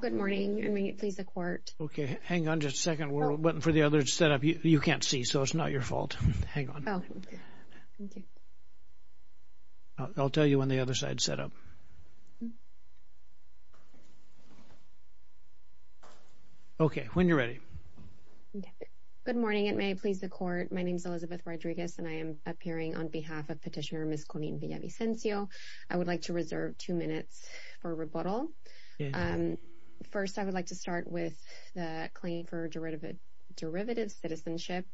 Good morning, and may it please the court. Okay, hang on just a second. We're waiting for the others to set up. You can't see so it's not your fault. Hang on. I'll tell you when the other side is set up. Good morning, it may please the court. My name is Elizabeth Rodriguez and I am appearing on behalf of petitioner Miss Colleen Villavicencio. I would like to reserve two minutes for rebuttal. First, I would like to start with the claim for derivative citizenship.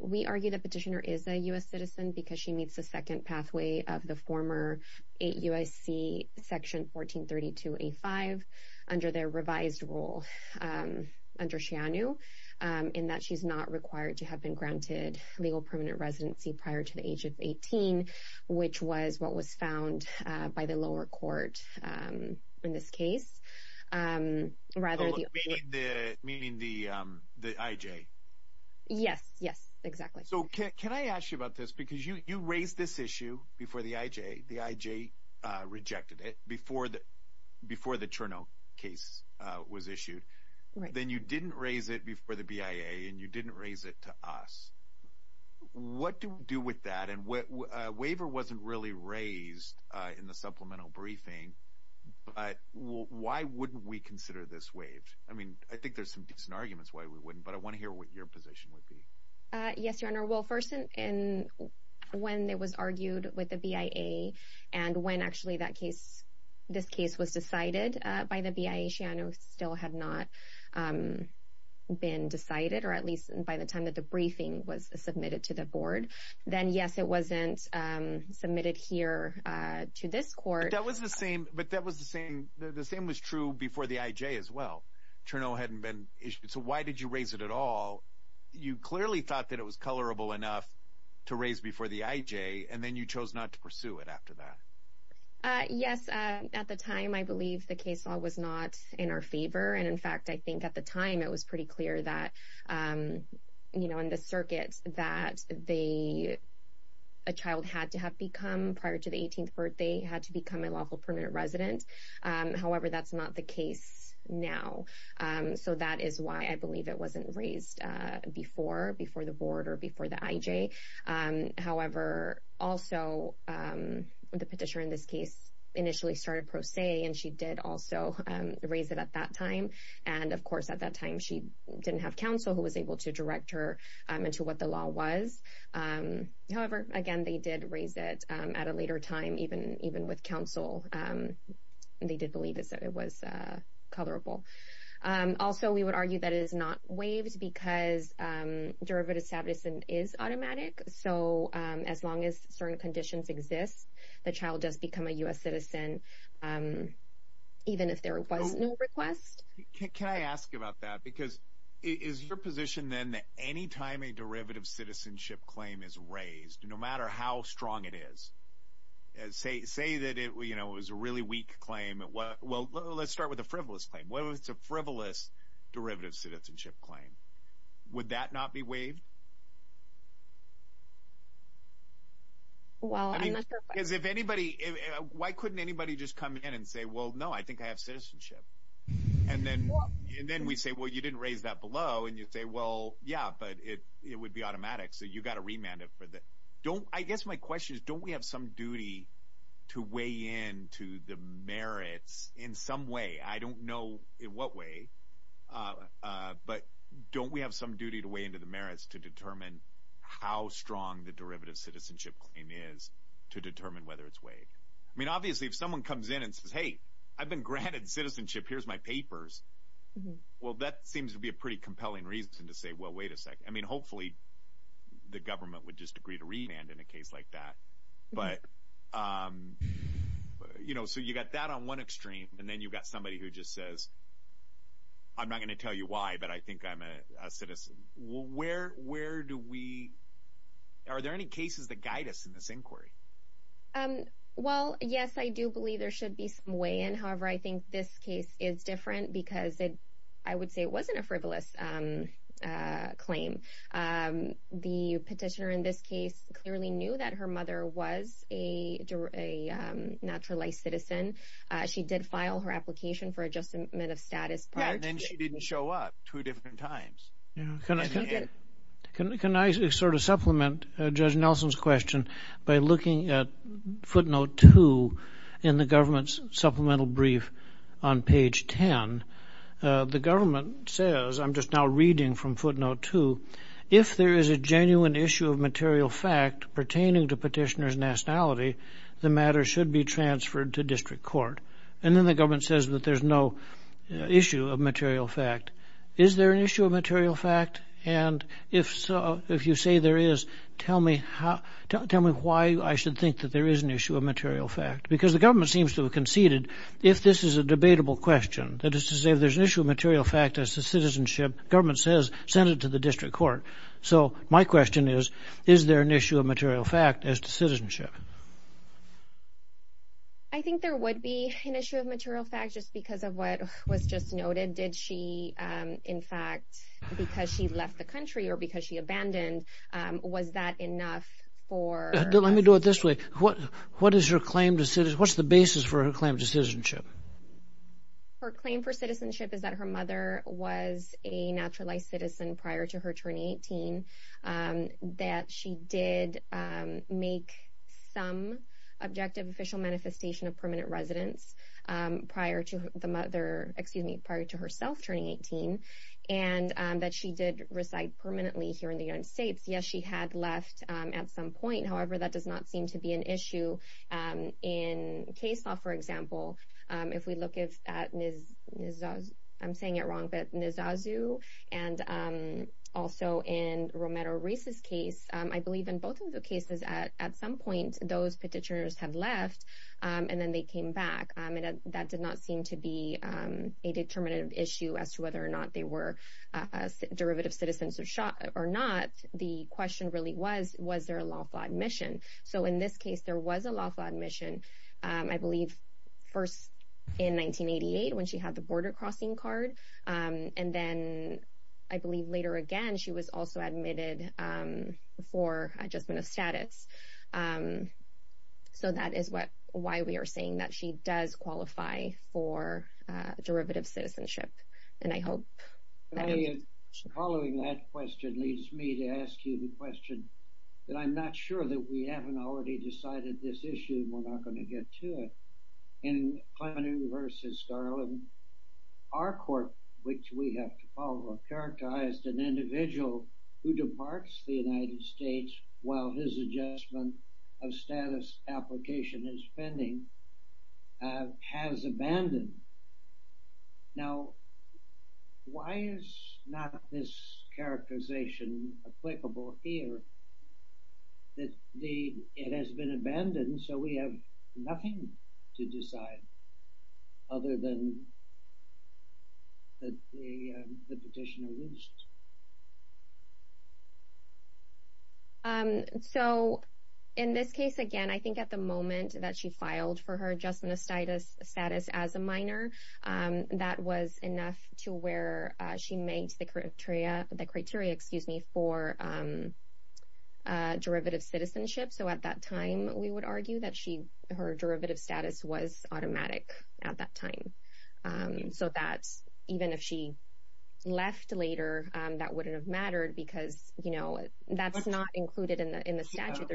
We argue that petitioner is a U.S. citizen because she meets the second pathway of the former 8 U.S.C. section 1432A5 under their revised rule under Shianu in that she's not required to have been granted legal permanent residency prior to the age of 18, which was what was found by the lower court in this case. Meaning the I.J.? Yes, yes, exactly. So can I ask you about this? Because you raised this issue before the I.J. The I.J. rejected it before the before the Cherno case was issued. Then you didn't raise it before the B.I.A. and you didn't raise it to us. What do we do with that? And what waiver wasn't really raised in the supplemental briefing. But why wouldn't we consider this waived? I mean, I think there's some decent arguments why we wouldn't. But I want to hear what your position would be. Yes, your honor. Well, first and when it was argued with the B.I.A. and when actually that case, this case was decided by the B.I.A. Shianu still had not been decided or at least by the time that the briefing was submitted to the board. Then, yes, it wasn't submitted here to this court. That was the same. But that was the same. The same was true before the I.J. as well. So why did you raise it at all? You clearly thought that it was colorable enough to raise before the I.J. and then you chose not to pursue it after that. Yes. At the time, I believe the case law was not in our favor. And in fact, I think at the time it was pretty clear that, you know, in the circuit that they a child had to have become prior to the 18th birthday had to become a lawful permanent resident. However, that's not the case now. So that is why I believe it wasn't raised before before the board or before the I.J. However, also the petitioner in this case initially started pro se and she did also raise it at that time. And of course, at that time, she didn't have counsel who was able to direct her into what the law was. However, again, they did raise it at a later time, even even with counsel, they did believe that it was colorable. Also, we would argue that it is not waived because derivative status and is automatic. So as long as certain conditions exist, the child does become a U.S. citizen, even if there was no request. Can I ask you about that? Because is your position then that any time a derivative citizenship claim is raised, no matter how strong it is, say, say that it was a really weak claim? Well, let's start with a frivolous claim. Well, it's a frivolous derivative citizenship claim. Would that not be waived? Well, I mean, because if anybody why couldn't anybody just come in and say, well, no, I think I have citizenship. And then and then we say, well, you didn't raise that below. And you say, well, yeah, but it would be automatic. So you've got to remand it for that. Don't I guess my question is, don't we have some duty to weigh in to the merits in some way? I don't know in what way, but don't we have some duty to weigh into the merits to determine how strong the derivative citizenship claim is to determine whether it's way? I mean, obviously, if someone comes in and says, hey, I've been granted citizenship, here's my papers. Well, that seems to be a pretty compelling reason to say, well, wait a second. I mean, hopefully the government would just agree to remand in a case like that. But, you know, so you got that on one extreme and then you've got somebody who just says. I'm not going to tell you why, but I think I'm a citizen. Where where do we are there any cases that guide us in this inquiry? Well, yes, I do believe there should be some way. And however, I think this case is different because I would say it wasn't a frivolous claim. The petitioner in this case clearly knew that her mother was a naturalized citizen. She did file her application for adjustment of status. And she didn't show up two different times. Can I sort of supplement Judge Nelson's question by looking at footnote two in the government's supplemental brief on page 10? The government says I'm just now reading from footnote two. If there is a genuine issue of material fact pertaining to petitioner's nationality, the matter should be transferred to district court. And then the government says that there's no issue of material fact. Is there an issue of material fact? And if so, if you say there is, tell me how, tell me why I should think that there is an issue of material fact. Because the government seems to have conceded if this is a debatable question, that is to say, there's an issue of material fact as to citizenship. Government says send it to the district court. So my question is, is there an issue of material fact as to citizenship? I think there would be an issue of material fact just because of what was just noted. Did she, in fact, because she left the country or because she abandoned, was that enough for... Let me do it this way. What is her claim to citizenship? What's the basis for her claim to citizenship? Her claim for citizenship is that her mother was a naturalized citizen prior to her turning 18. That she did make some objective official manifestation of permanent residence prior to the mother, excuse me, prior to herself turning 18. And that she did reside permanently here in the United States. Yes, she had left at some point. However, that does not seem to be an issue. In case law, for example, if we look at Nizazu, I'm saying it wrong, but Nizazu, and also in Romero-Reis' case, I believe in both of the cases, at some point, those petitioners had left and then they came back. That did not seem to be a determinative issue as to whether or not they were derivative citizens or not. The question really was, was there a lawful admission? So in this case, there was a lawful admission, I believe, first in 1988 when she had the border crossing card. And then, I believe later again, she was also admitted for adjustment of status. So that is why we are saying that she does qualify for derivative citizenship. Following that question leads me to ask you the question that I'm not sure that we haven't already decided this issue and we're not going to get to it. In Klamen versus Garland, our court, which we have to follow, characterized an individual who departs the United States while his adjustment of status application is pending, has abandoned. Now, why is not this characterization applicable here that it has been abandoned, so we have nothing to decide other than the petitioner leaves? So in this case, again, I think at the moment that she filed for her adjustment of status as a minor, that was enough to where she made the criteria for derivative citizenship. So at that time, we would argue that her derivative status was automatic at that time. So even if she left later, that wouldn't have mattered because that's not included in the statute.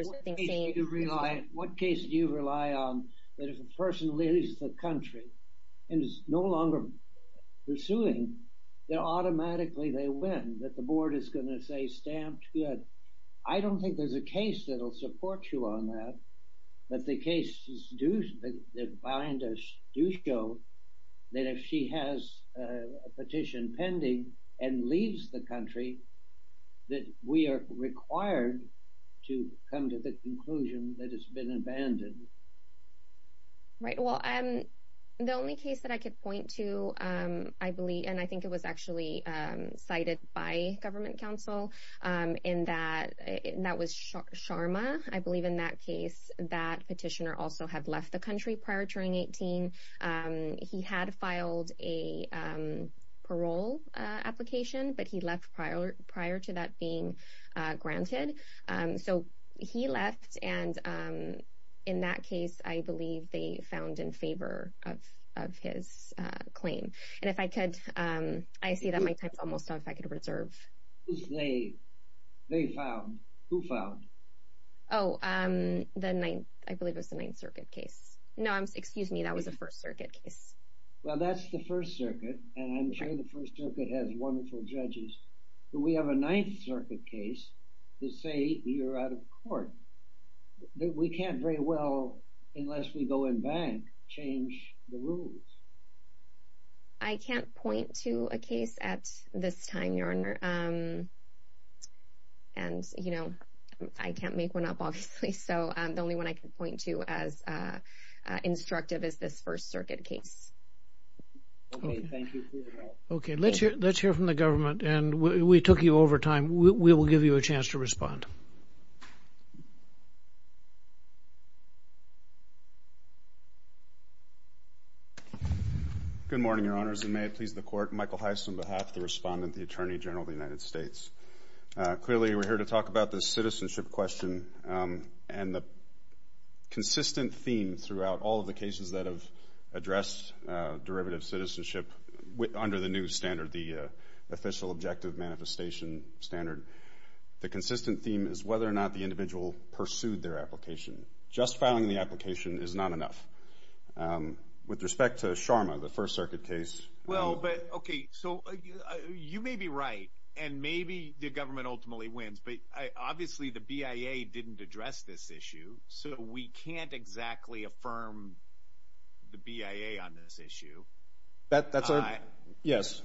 What case do you rely on that if a person leaves the country and is no longer pursuing, that automatically they win, that the board is going to say stamped good? I don't think there's a case that will support you on that. But the cases that bind us do show that if she has a petition pending and leaves the country, that we are required to come to the conclusion that it's been abandoned. Right. Well, the only case that I could point to, I believe, and I think it was actually cited by government counsel, and that was Sharma. I believe in that case, that petitioner also had left the country prior to turning 18. He had filed a parole application, but he left prior to that being granted. So he left. And in that case, I believe they found in favor of his claim. And if I could, I see that my time is almost up, if I could reserve. They found, who found? Oh, I believe it was the Ninth Circuit case. No, excuse me, that was the First Circuit case. Well, that's the First Circuit, and I'm sure the First Circuit has wonderful judges. Do we have a Ninth Circuit case to say you're out of court? We can't very well, unless we go in bank, change the rules. I can't point to a case at this time, Your Honor. And, you know, I can't make one up, obviously. So the only one I can point to as instructive is this First Circuit case. Okay, thank you for your help. Okay, let's hear from the government, and we took you over time. We will give you a chance to respond. Good morning, Your Honors, and may it please the Court, Michael Heiss on behalf of the Respondent, the Attorney General of the United States. Clearly, we're here to talk about the citizenship question and the consistent theme throughout all of the cases that have addressed derivative citizenship under the new standard, the official objective manifestation standard. The consistent theme is whether or not the individual pursued their application. Just filing the application is not enough. With respect to Sharma, the First Circuit case. Well, but, okay, so you may be right, and maybe the government ultimately wins, but obviously the BIA didn't address this issue, so we can't exactly affirm the BIA on this issue. Yes,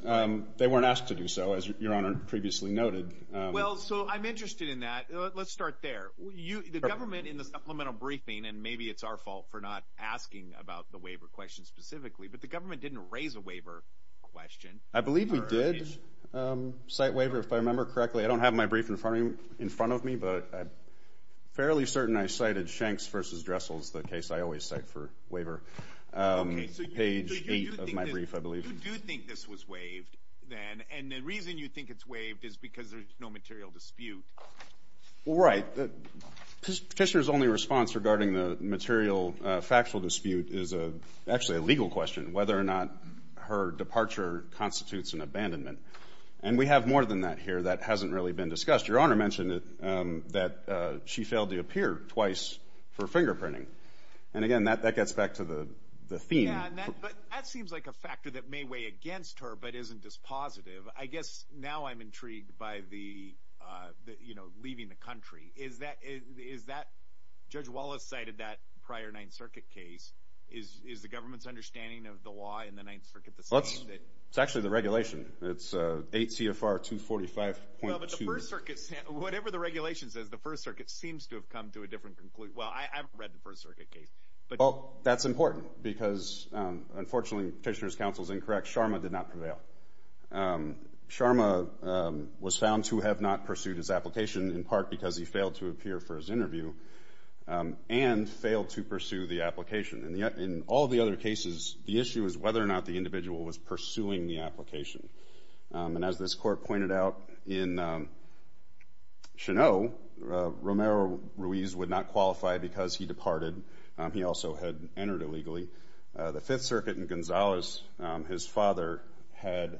they weren't asked to do so, as Your Honor previously noted. Well, so I'm interested in that. Let's start there. The government, in the supplemental briefing, and maybe it's our fault for not asking about the waiver question specifically, but the government didn't raise a waiver question. I believe we did cite waiver, if I remember correctly. I don't have my brief in front of me, but I'm fairly certain I cited Shanks v. Dressel's, the case I always cite for waiver, page 8 of my brief, I believe. Okay, so you do think this was waived then, and the reason you think it's waived is because there's no material dispute. Well, right. Petitioner's only response regarding the material factual dispute is actually a legal question, whether or not her departure constitutes an abandonment. And we have more than that here that hasn't really been discussed. Your Honor mentioned that she failed to appear twice for fingerprinting. And, again, that gets back to the theme. Yeah, but that seems like a factor that may weigh against her but isn't dispositive. I guess now I'm intrigued by the, you know, leaving the country. Judge Wallace cited that prior Ninth Circuit case. Is the government's understanding of the law in the Ninth Circuit the same? It's actually the regulation. It's 8 CFR 245.2. Well, but the First Circuit, whatever the regulation says, the First Circuit seems to have come to a different conclusion. Well, I haven't read the First Circuit case. Well, that's important because, unfortunately, Petitioner's counsel is incorrect. Sharma did not prevail. Sharma was found to have not pursued his application, in part because he failed to appear for his interview and failed to pursue the application. In all the other cases, the issue is whether or not the individual was pursuing the application. And as this Court pointed out, in Cheneau, Romero Ruiz would not qualify because he departed. He also had entered illegally. The Fifth Circuit in Gonzales, his father had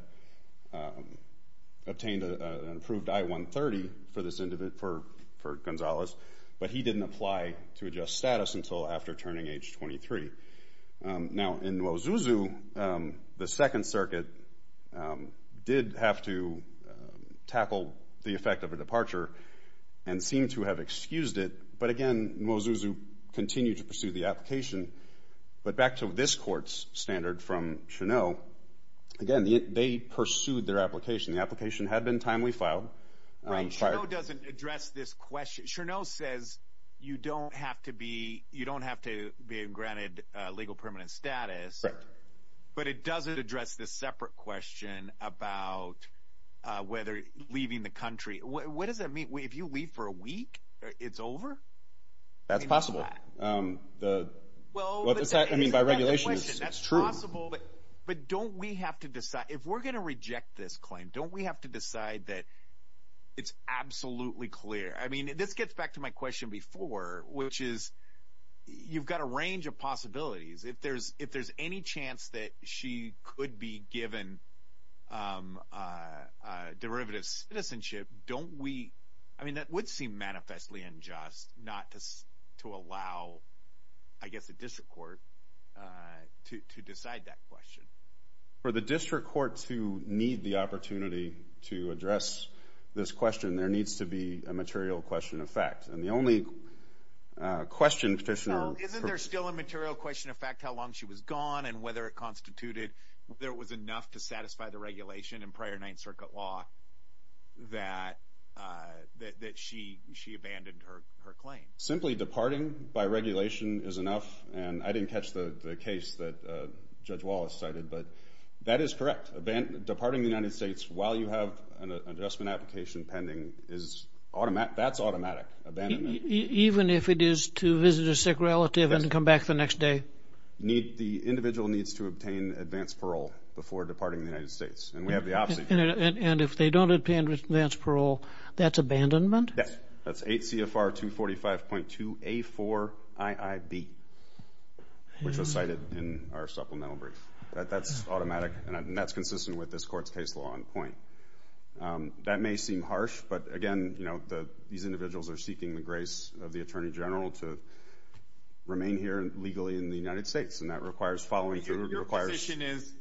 obtained an approved I-130 for Gonzales, but he didn't apply to adjust status until after turning age 23. Now, in Mwazuzu, the Second Circuit did have to tackle the effect of a departure and seemed to have excused it, but, again, Mwazuzu continued to pursue the application. But back to this Court's standard from Cheneau, again, they pursued their application. The application had been timely filed. Right. Cheneau doesn't address this question. Cheneau says you don't have to be granted legal permanent status, but it doesn't address this separate question about whether leaving the country. What does that mean? If you leave for a week, it's over? That's possible. I mean, by regulation, it's true. But don't we have to decide? If we're going to reject this claim, don't we have to decide that it's absolutely clear? I mean, this gets back to my question before, which is you've got a range of possibilities. If there's any chance that she could be given derivative citizenship, don't we— not to allow, I guess, a district court to decide that question? For the district court to need the opportunity to address this question, there needs to be a material question of fact. And the only question, Petitioner— So isn't there still a material question of fact how long she was gone and whether it constituted—whether it was enough to satisfy the regulation in prior Ninth Circuit law that she abandoned her claim? Simply departing by regulation is enough. And I didn't catch the case that Judge Wallace cited, but that is correct. Departing the United States while you have an adjustment application pending is automatic. That's automatic. Abandonment. Even if it is to visit a sick relative and come back the next day? The individual needs to obtain advance parole before departing the United States. And we have the option. And if they don't obtain advance parole, that's abandonment? Yes. That's 8 CFR 245.2 A4 IIB, which was cited in our supplemental brief. That's automatic, and that's consistent with this court's case law on point. That may seem harsh, but, again, these individuals are seeking the grace of the Attorney General to remain here legally in the United States, and that requires following through. Your position is,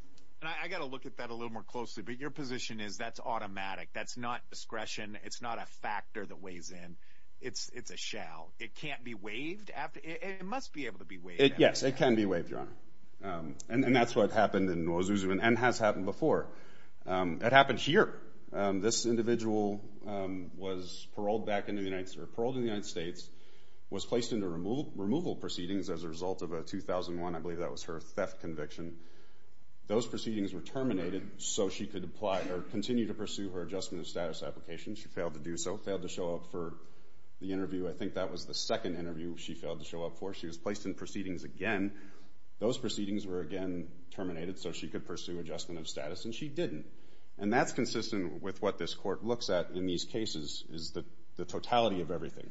and I've got to look at that a little more closely, but your position is that's automatic. That's not discretion. It's not a factor that weighs in. It's a shall. It can't be waived. It must be able to be waived. Yes, it can be waived, Your Honor. And that's what happened in Mouazouzou and has happened before. It happened here. This individual was paroled back into the United States, was placed into removal proceedings as a result of a 2001, I believe that was her theft conviction. Those proceedings were terminated so she could apply or continue to pursue her Adjustment of Status application. She failed to do so, failed to show up for the interview. I think that was the second interview she failed to show up for. She was placed in proceedings again. Those proceedings were again terminated so she could pursue Adjustment of Status, and she didn't, and that's consistent with what this court looks at in these cases is the totality of everything.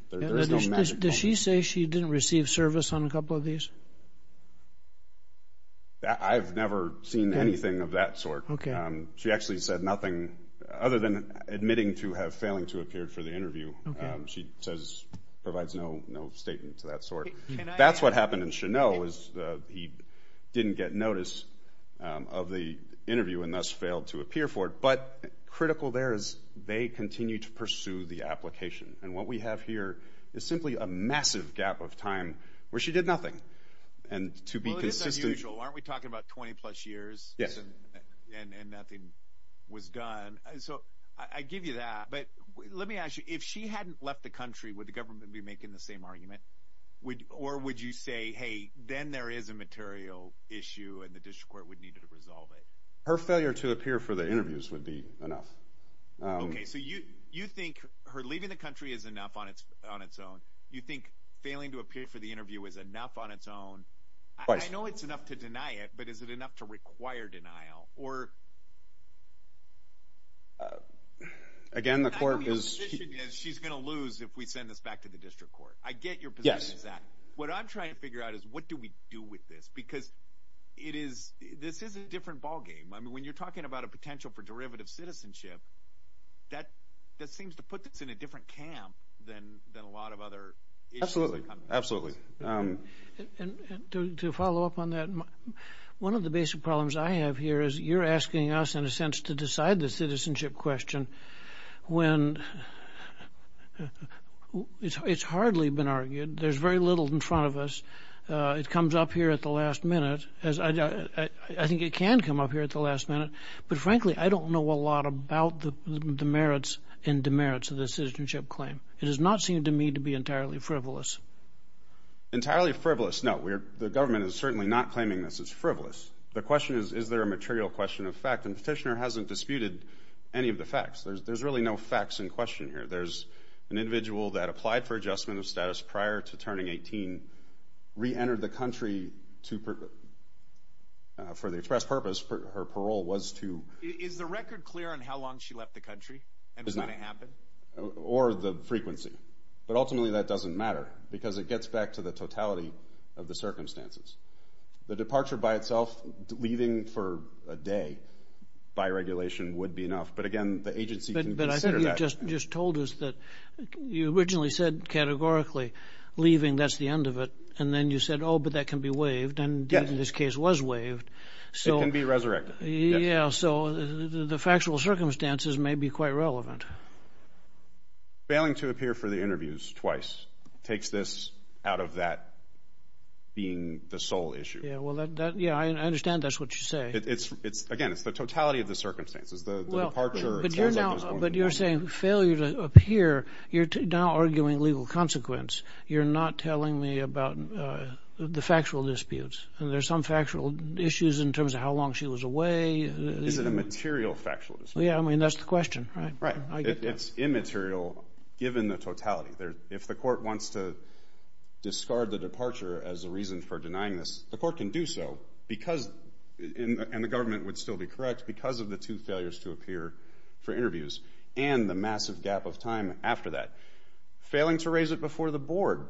Does she say she didn't receive service on a couple of these? I've never seen anything of that sort. She actually said nothing other than admitting to have failing to appear for the interview. She provides no statement of that sort. That's what happened in Chennault is he didn't get notice of the interview and thus failed to appear for it. But critical there is they continue to pursue the application. And what we have here is simply a massive gap of time where she did nothing. Well, it is unusual. Aren't we talking about 20-plus years and nothing was done? So I give you that. But let me ask you, if she hadn't left the country, would the government be making the same argument? Or would you say, hey, then there is a material issue and the district court would need to resolve it? Her failure to appear for the interviews would be enough. Okay, so you think her leaving the country is enough on its own. You think failing to appear for the interview is enough on its own. I know it's enough to deny it, but is it enough to require denial? Again, the court is – She's going to lose if we send this back to the district court. I get your position on that. What I'm trying to figure out is what do we do with this? Because this is a different ballgame. I mean, when you're talking about a potential for derivative citizenship, that seems to put this in a different camp than a lot of other issues. Absolutely, absolutely. And to follow up on that, one of the basic problems I have here is you're asking us, in a sense, to decide the citizenship question when it's hardly been argued. There's very little in front of us. It comes up here at the last minute. I think it can come up here at the last minute. But frankly, I don't know a lot about the merits and demerits of the citizenship claim. It does not seem to me to be entirely frivolous. Entirely frivolous? No, the government is certainly not claiming this as frivolous. The question is, is there a material question of fact? And the petitioner hasn't disputed any of the facts. There's really no facts in question here. There's an individual that applied for adjustment of status prior to turning 18, reentered the country for the express purpose her parole was to. Is the record clear on how long she left the country and when it happened? Or the frequency. But ultimately that doesn't matter because it gets back to the totality of the circumstances. The departure by itself, leaving for a day by regulation would be enough. But again, the agency can consider that. But I think you just told us that you originally said categorically leaving, that's the end of it. And then you said, oh, but that can be waived. And, indeed, this case was waived. It can be resurrected. Yeah, so the factual circumstances may be quite relevant. Failing to appear for the interviews twice takes this out of that being the sole issue. Yeah, I understand that's what you say. Again, it's the totality of the circumstances. The departure itself is going to be relevant. But you're saying failure to appear, you're now arguing legal consequence. You're not telling me about the factual disputes. There are some factual issues in terms of how long she was away. Is it a material factual dispute? Yeah, I mean, that's the question. Right. It's immaterial given the totality. If the court wants to discard the departure as a reason for denying this, the court can do so because, and the government would still be correct, because of the two failures to appear for interviews and the massive gap of time after that. Failing to raise it before the board,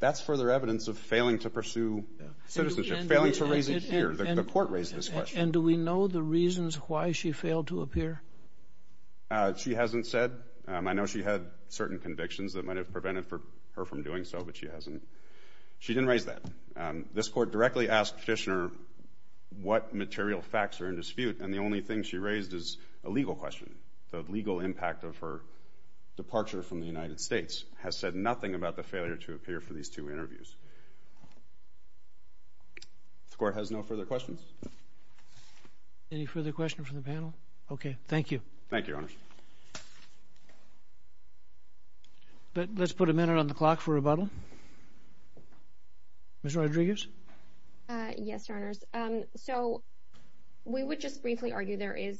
that's further evidence of failing to pursue citizenship. Failing to raise it here. The court raised this question. And do we know the reasons why she failed to appear? She hasn't said. I know she had certain convictions that might have prevented her from doing so, but she hasn't. She didn't raise that. This court directly asked Fishner what material facts are in dispute, and the only thing she raised is a legal question. The legal impact of her departure from the United States has said nothing about the failure to appear for these two interviews. The court has no further questions. Any further questions from the panel? Okay. Thank you. Thank you, Your Honors. But let's put a minute on the clock for rebuttal. Ms. Rodriguez? Yes, Your Honors. So we would just briefly argue there is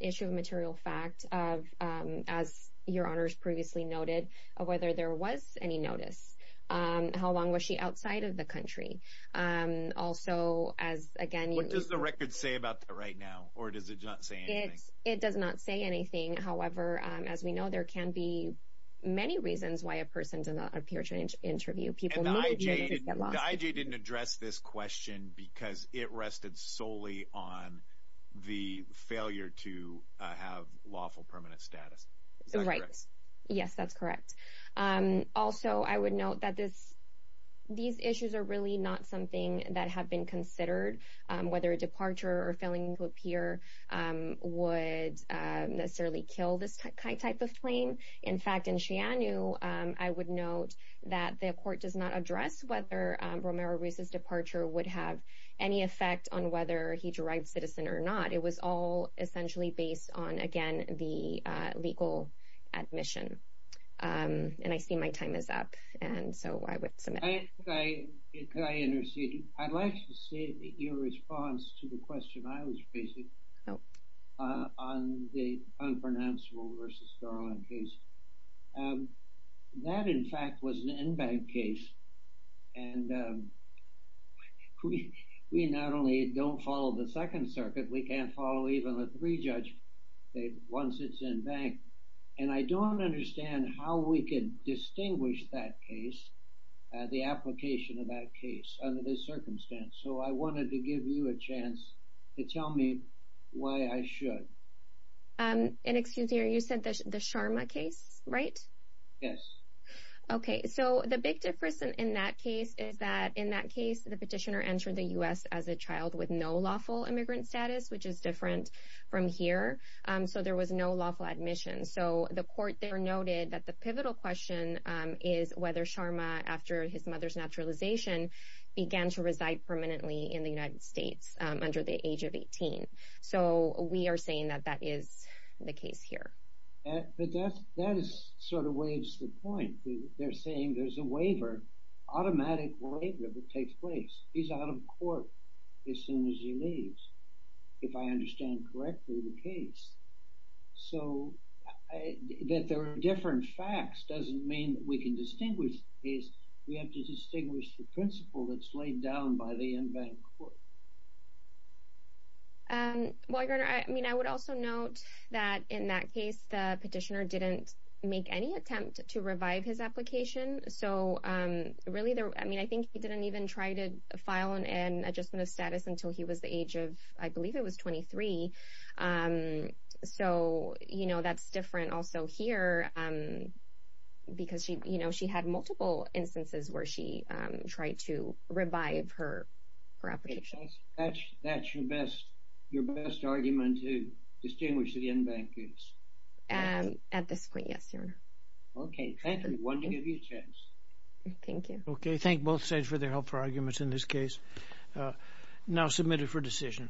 issue of material fact, as Your Honors previously noted, of whether there was any notice. How long was she outside of the country? Also, as, again, you – What does the record say about that right now, or does it not say anything? It does not say anything. However, as we know, there can be many reasons why a person does not appear to an interview. People move, they get lost. And the IJ didn't address this question because it rested solely on the failure to have lawful permanent status. Is that correct? Right. Yes, that's correct. Also, I would note that these issues are really not something that have been considered, whether a departure or failing to appear would necessarily kill this type of claim. In fact, in Shianu, I would note that the court does not address whether Romero Ruiz's departure would have any effect on whether he derived citizen or not. It was all essentially based on, again, the legal admission. And I see my time is up, and so I would submit. Could I intercede? I'd like to see your response to the question I was facing on the unpronounceable v. Garland case. That, in fact, was an en banc case. And we not only don't follow the Second Circuit, we can't follow even the three judgments once it's en banc. And I don't understand how we can distinguish that case, the application of that case under this circumstance. So I wanted to give you a chance to tell me why I should. And excuse me, you said the Sharma case, right? Yes. Okay. So the big difference in that case is that in that case, the petitioner entered the U.S. as a child with no lawful immigrant status, which is different from here. So there was no lawful admission. So the court there noted that the pivotal question is whether Sharma, after his mother's naturalization, began to reside permanently in the United States under the age of 18. So we are saying that that is the case here. But that sort of waives the point. They're saying there's a waiver, automatic waiver, that takes place. He's out of court as soon as he leaves. If I understand correctly, the case. So that there are different facts doesn't mean that we can distinguish the case. We have to distinguish the principle that's laid down by the en banc court. Well, Your Honor, I mean, I would also note that in that case, the petitioner didn't make any attempt to revive his application. So really, I mean, I think he didn't even try to file an adjustment of status until he was the age of, I believe it was 23. So, you know, that's different also here because she, you know, she had multiple instances where she tried to revive her application. That's your best argument to distinguish the en banc case? Okay, thank you. We wanted to give you a chance. Thank you. Okay, thank both sides for their help for arguments in this case. Now submit it for decision.